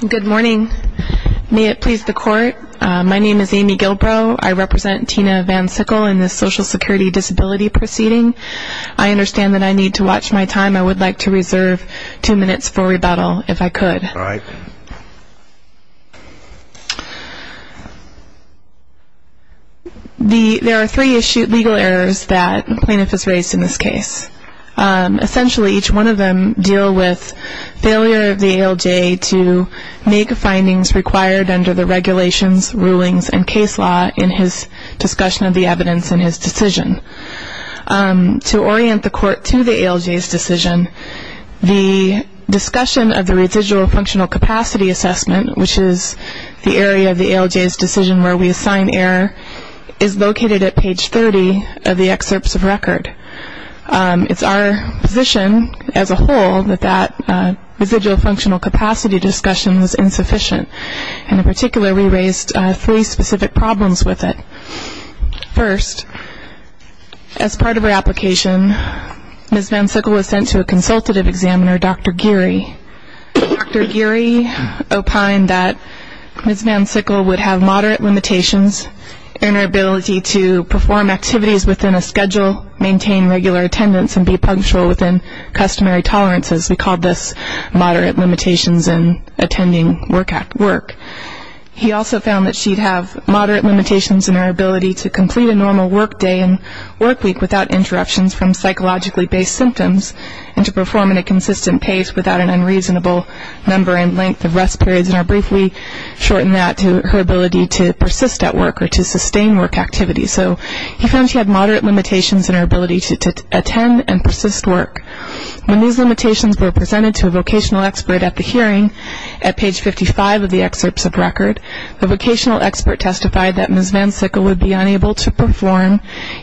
Good morning. May it please the court. My name is Amy Gilbrow. I represent Tina Van Sickle in the Social Security Disability Proceeding. I understand that I need to watch my time. I would like to reserve two minutes for rebuttal if I could. There are three legal errors that the plaintiff has raised in this case. Essentially each one of them deal with failure of the ALJ to make findings required under the regulations, rulings, and case law in his discussion of the evidence in his decision. To orient the court to the ALJ's decision, the discussion of the residual functional capacity assessment, which is the area of the ALJ's decision where we assign error, is located at page 30 of the excerpts of record. It is our position as a whole that that residual functional capacity discussion was insufficient. In particular, we raised three specific problems with it. First, as part of her application, Ms. Van Sickle was sent to a consultative examiner, Dr. Geary. Dr. Geary opined that Ms. Van Sickle would have moderate limitations in her ability to perform activities within a schedule, maintain regular attendance, and be punctual within customary tolerances. We called this moderate limitations in attending work. He also found that she'd have moderate limitations in her ability to complete a normal work day and work week without interruptions from psychologically based symptoms, and to perform at a consistent pace without an unreasonable number and length of rest periods, and I'll briefly shorten that to her ability to persist at work or to sustain work activity. So he found she had moderate limitations in her ability to attend and persist work. When these limitations were presented to a vocational expert at the hearing, at page 55 of the excerpts of record, the vocational expert testified that Ms. Van Sickle would be unable to perform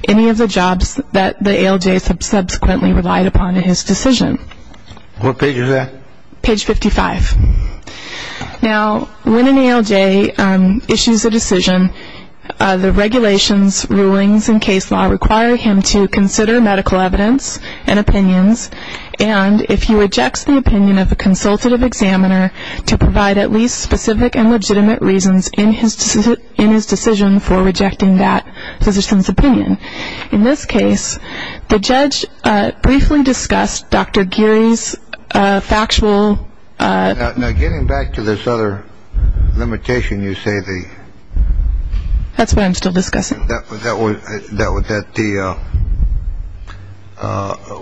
any of the jobs that the ALJ subsequently relied upon in his decision. What page is that? Page 55. Now getting back to this other limitation, you say the... That's what I'm still discussing. That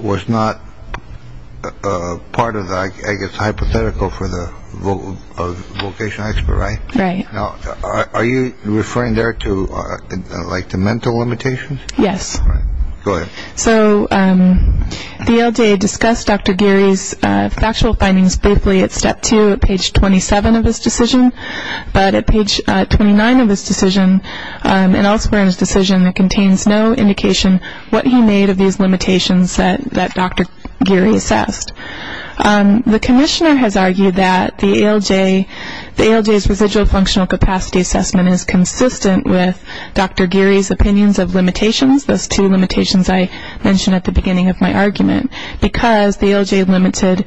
was not part of the, I guess, hypothetical for the vocational expert, right? Right. Are you referring there to like the mental limitations? Yes. Go ahead. So the ALJ discussed Dr. Geary's factual findings briefly at step two at page 27 of his decision, but at page 29 of his decision and elsewhere in his decision, it contains no indication what he made of these limitations that Dr. Geary assessed. The commissioner has argued that the ALJ's residual functional capacity assessment is consistent with Dr. Geary's opinions of limitations, those two limitations I mentioned at the beginning of my argument, because the ALJ limited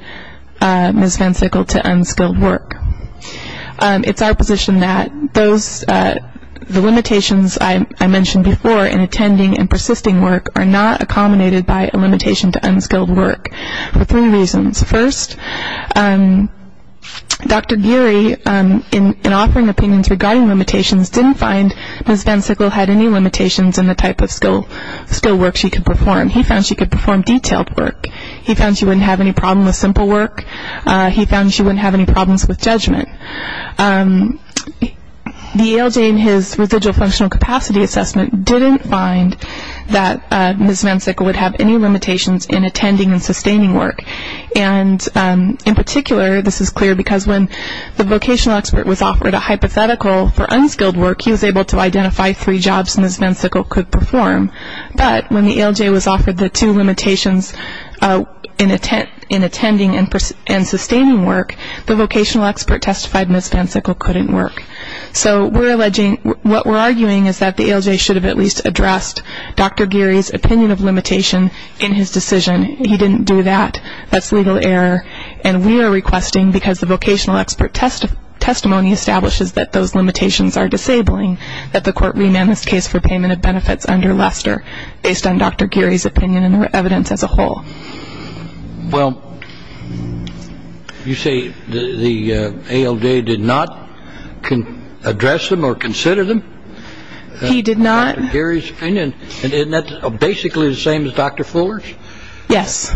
Ms. Van Sickle to unskilled work. It's our position that the limitations I mentioned before in attending and persisting work are not accommodated by a limitation to unskilled work for three reasons. First, Dr. Geary, in offering opinions regarding limitations, didn't find Ms. Van Sickle had any limitations in the type of skilled work she could perform. He found she could perform detailed work. He found she wouldn't have any problem with simple work. He found she wouldn't have any problems with judgment. The ALJ in his residual functional capacity assessment didn't find that Ms. Van Sickle would have any limitations in attending and sustaining work. And in particular, this is clear because when the vocational expert was offered a hypothetical for unskilled work, he was able to identify three jobs Ms. Van Sickle could perform. But when the ALJ was offered the two limitations in attending and sustaining work, the vocational expert testified Ms. Van Sickle couldn't work. So what we're arguing is that the ALJ should have at least addressed Dr. Geary's opinion of limitation in his decision. He didn't do that. That's legal error. And we are requesting, because the vocational expert testimony establishes that those limitations are disabling, that the court remand this case for payment of benefits under Lester based on Dr. Geary's opinion and her evidence as a whole. Well, you say the ALJ did not address them or consider them? He did not. Dr. Geary's opinion. Isn't that basically the same as Dr. Fuller's? Yes.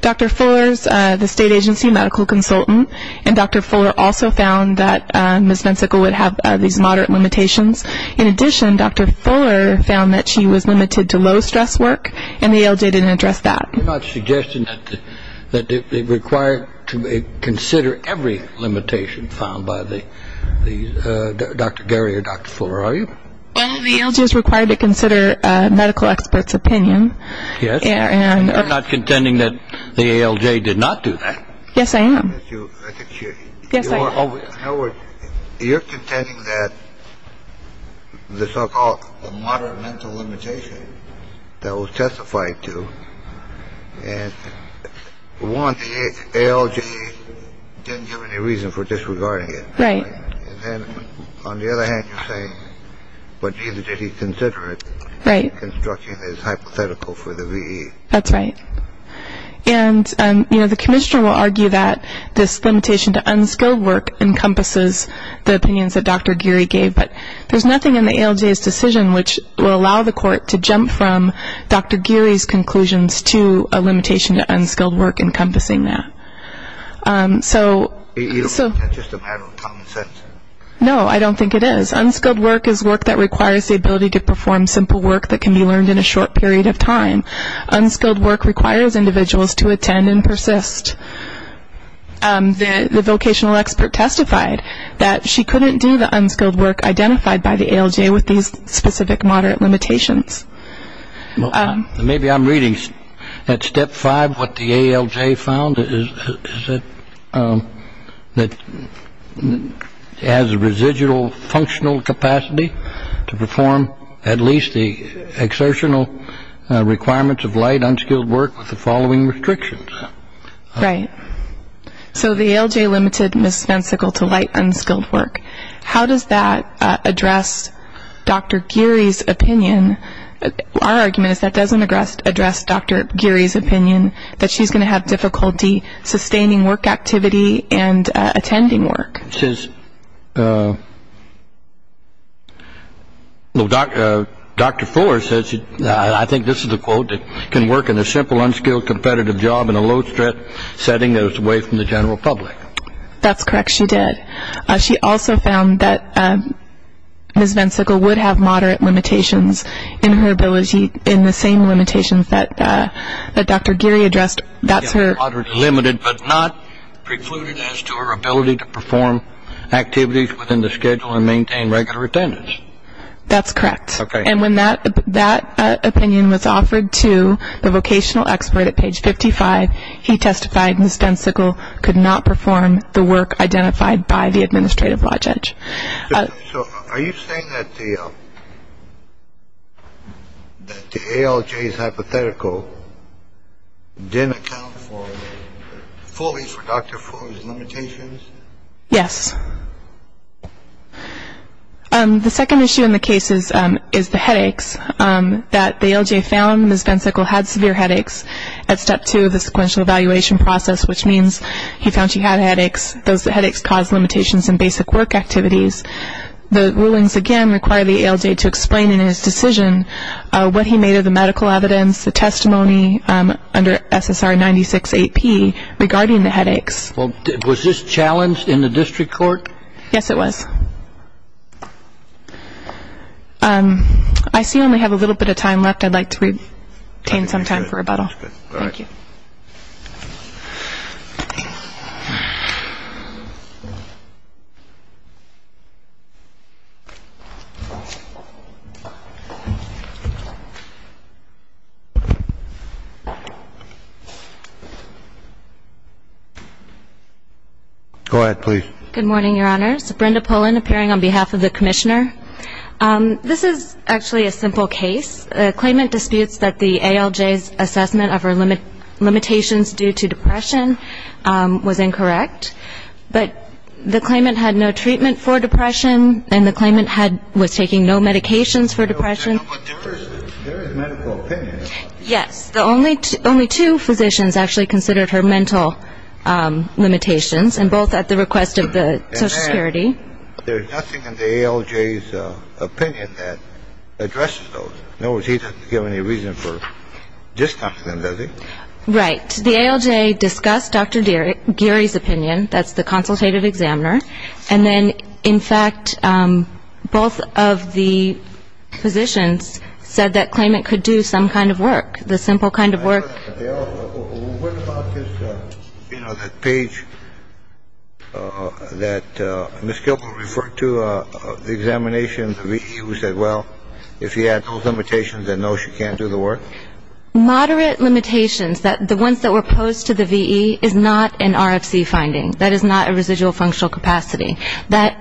Dr. Fuller is the state agency medical consultant, and Dr. Fuller also found that Ms. Van Sickle would have these moderate limitations. In addition, Dr. Fuller found that she was limited to low stress work, and the ALJ didn't address that. You're not suggesting that they require to consider every limitation found by Dr. Geary or Dr. Fuller, are you? Well, the ALJ is required to consider medical experts' opinion. Yes. And I'm not contending that the ALJ did not do that. Yes, I am. In other words, you're contending that the so-called moderate mental limitation that was testified to, and one, the ALJ didn't give any reason for disregarding it. Right. On the other hand, you're saying, but did he consider it? Right. Construction is hypothetical for the VE. That's right. And, you know, the commissioner will argue that this limitation to unskilled work encompasses the opinions that Dr. Geary gave, but there's nothing in the ALJ's decision which will allow the court to jump from Dr. Geary's conclusions to a limitation to unskilled work encompassing that. You don't think that's just a matter of common sense? No, I don't think it is. Unskilled work is work that requires the ability to perform simple work that can be learned in a short period of time. Unskilled work requires individuals to attend and persist. The vocational expert testified that she couldn't do the unskilled work identified by the ALJ with these specific moderate limitations. Maybe I'm reading at step five what the ALJ found, that it has a residual functional capacity to perform at least the exertional requirements of light, unskilled work with the following restrictions. Right. So the ALJ limited misspecifical to light, unskilled work. How does that address Dr. Geary's opinion? Our argument is that doesn't address Dr. Geary's opinion that she's going to have difficulty sustaining work activity and attending work. Dr. Fuller says, I think this is a quote, that can work in a simple, unskilled, competitive job in a low-stress setting that is away from the general public. That's correct, she did. She also found that Ms. Vensicle would have moderate limitations in her ability, in the same limitations that Dr. Geary addressed. That's her. Limited but not precluded as to her ability to perform activities within the schedule and maintain regular attendance. That's correct. Okay. And when that opinion was offered to the vocational expert at page 55, he testified Ms. Vensicle could not perform the work identified by the administrative law judge. So are you saying that the ALJ's hypothetical didn't account fully for Dr. Fuller's limitations? Yes. The second issue in the case is the headaches, that the ALJ found Ms. Vensicle had severe headaches at step two of the sequential evaluation process, which means he found she had headaches. Those headaches caused limitations in basic work activities. The rulings, again, require the ALJ to explain in his decision what he made of the medical evidence, the testimony under SSR 96-8P regarding the headaches. Was this challenged in the district court? Yes, it was. I see we only have a little bit of time left. I'd like to retain some time for rebuttal. All right. Thank you. Go ahead, please. Good morning, Your Honors. Brenda Pullen, appearing on behalf of the commissioner. This is actually a simple case. The claimant disputes that the ALJ's assessment of her limitations due to depression was incorrect, but the claimant had no treatment for depression, and the claimant was taking no medications for depression. There is medical opinion. Yes. Only two physicians actually considered her mental limitations, and both at the request of the Social Security. There's nothing in the ALJ's opinion that addresses those. Nor does he have any reason for discussing them, does he? Right. The ALJ discussed Dr. Geary's opinion. That's the consultative examiner. And then, in fact, both of the physicians said that claimant could do some kind of work. The simple kind of work. What about this, you know, that page that Ms. Gilbert referred to, the examination, the VE who said, well, if you had those limitations, then no, she can't do the work? Moderate limitations. The ones that were posed to the VE is not an RFC finding. That is not a residual functional capacity.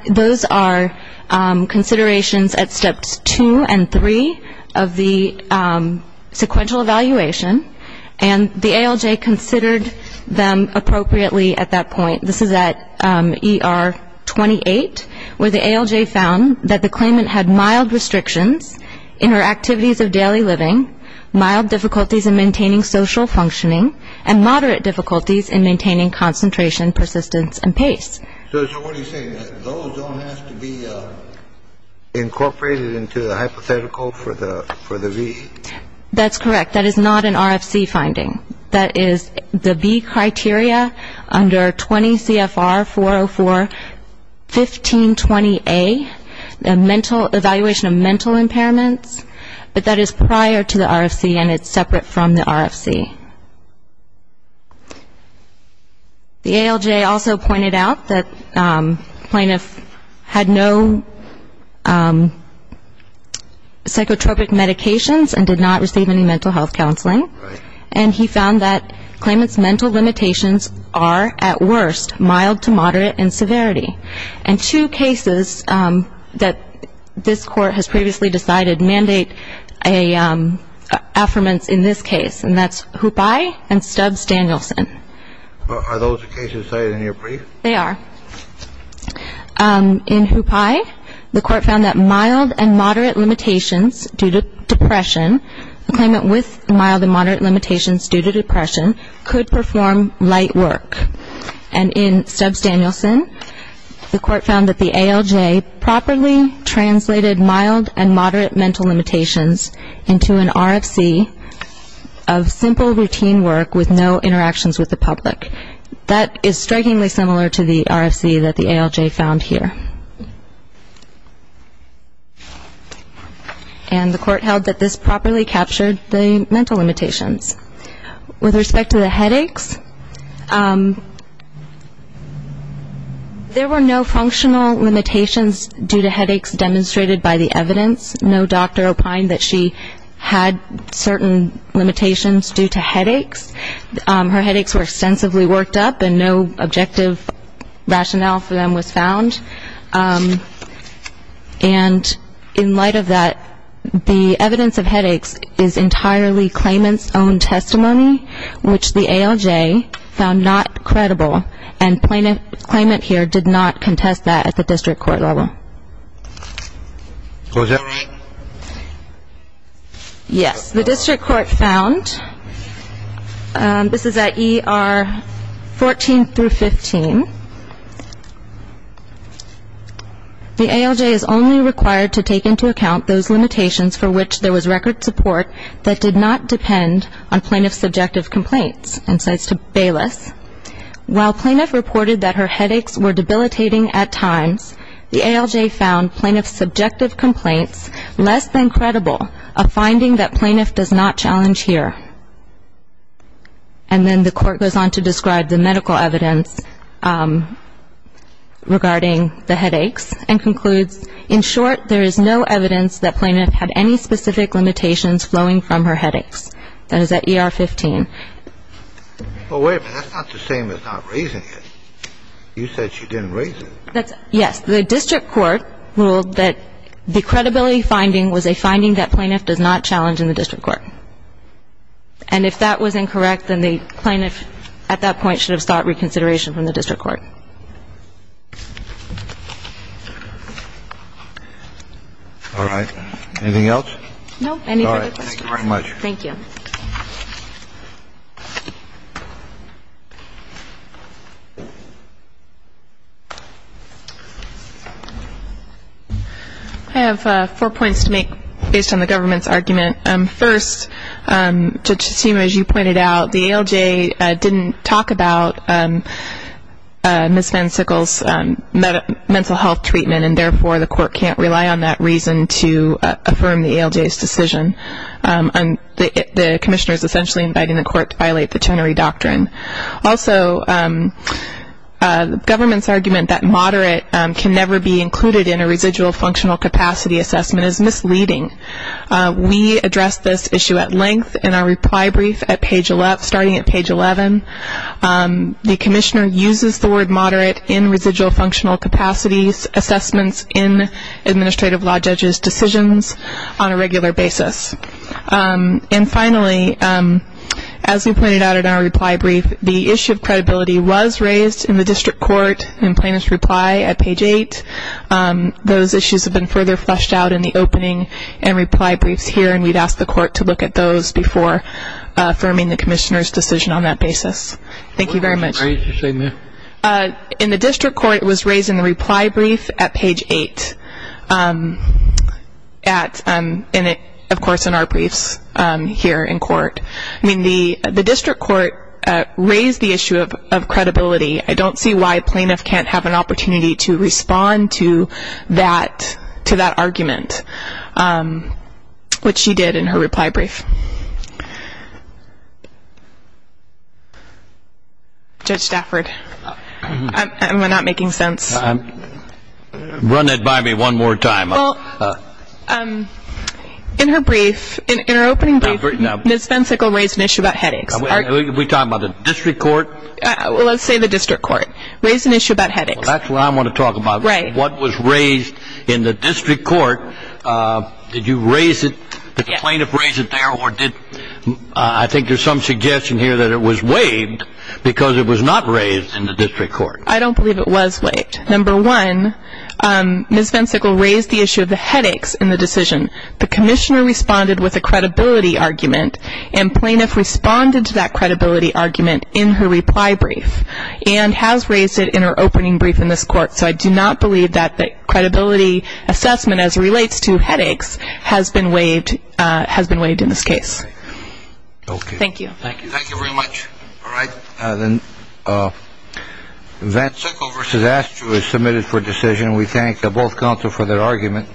Those are considerations at steps two and three of the sequential evaluation, and the ALJ considered them appropriately at that point. This is at ER 28, where the ALJ found that the claimant had mild restrictions in her activities of daily living, mild difficulties in maintaining social functioning, and moderate difficulties in maintaining concentration, persistence, and pace. So what are you saying? Those don't have to be incorporated into the hypothetical for the VE? That's correct. That is not an RFC finding. That is the VE criteria under 20 CFR 404-1520A, the evaluation of mental impairments. But that is prior to the RFC, and it's separate from the RFC. The ALJ also pointed out that plaintiff had no psychotropic medications and did not receive any mental health counseling, and he found that claimant's mental limitations are, at worst, mild to moderate in severity. And two cases that this court has previously decided mandate affirmance in this case, and that's Hupai and Stubbs-Danielson. Are those the cases decided in your brief? They are. In Hupai, the court found that mild and moderate limitations due to depression, the claimant with mild and moderate limitations due to depression, could perform light work. And in Stubbs-Danielson, the court found that the ALJ properly translated mild and moderate mental limitations into an RFC of simple routine work with no interactions with the public. That is strikingly similar to the RFC that the ALJ found here. And the court held that this properly captured the mental limitations. With respect to the headaches, there were no functional limitations due to headaches demonstrated by the evidence. No doctor opined that she had certain limitations due to headaches. Her headaches were extensively worked up, and no objective rationale for them was found. And in light of that, the evidence of headaches is entirely claimant's own testimony, which the ALJ found not credible. And the claimant here did not contest that at the district court level. Yes, the district court found, this is at ER 14 through 15, the ALJ is only required to take into account those limitations for which there was record support that did not depend on plaintiff's subjective complaints. And so it's to Bayless. While plaintiff reported that her headaches were debilitating at times, the ALJ found plaintiff's subjective complaints less than credible, a finding that plaintiff does not challenge here. And then the court goes on to describe the medical evidence regarding the headaches and concludes, in short, there is no evidence that plaintiff had any specific limitations flowing from her headaches. That is at ER 15. Well, wait a minute. That's not the same as not raising it. You said she didn't raise it. Yes. The district court ruled that the credibility finding was a finding that plaintiff does not challenge in the district court. And if that was incorrect, then the plaintiff at that point should have sought reconsideration from the district court. All right. Anything else? No. All right. Thank you very much. Thank you. I have four points to make based on the government's argument. First, Judge Tsutsuma, as you pointed out, the ALJ didn't talk about Ms. Van Sickle's mental health treatment and therefore the court can't rely on that reason to affirm the ALJ's decision. The commissioner is essentially inviting the court to violate the Chenery Doctrine. Also, the government's argument that moderate can never be included in a residual functional capacity assessment is misleading. We addressed this issue at length in our reply brief starting at page 11. The commissioner uses the word moderate in residual functional capacities assessments in administrative law judges' decisions on a regular basis. And finally, as we pointed out in our reply brief, the issue of credibility was raised in the district court in plaintiff's reply at page 8. Those issues have been further fleshed out in the opening and reply briefs here, and we'd ask the court to look at those before affirming the commissioner's decision on that basis. Thank you very much. In the district court, it was raised in the reply brief at page 8, of course, in our briefs here in court. The district court raised the issue of credibility. I don't see why a plaintiff can't have an opportunity to respond to that argument, which she did in her reply brief. Judge Stafford, am I not making sense? Run it by me one more time. In her brief, in her opening brief, Ms. Vensickel raised an issue about headaches. Are we talking about the district court? Well, let's say the district court raised an issue about headaches. Well, that's what I want to talk about. Right. What was raised in the district court, did you raise it, did the plaintiff raise it there, or did I think there's some suggestion here that it was waived because it was not raised in the district court. I don't believe it was waived. Number one, Ms. Vensickel raised the issue of the headaches in the decision. The commissioner responded with a credibility argument, and plaintiff responded to that credibility argument in her reply brief and has raised it in her opening brief in this court. So I do not believe that the credibility assessment, as it relates to headaches, has been waived in this case. Okay. Thank you. Thank you. Thank you very much. All right. Then Vensickel v. Aschew is submitted for decision. We thank both counsel for their argument.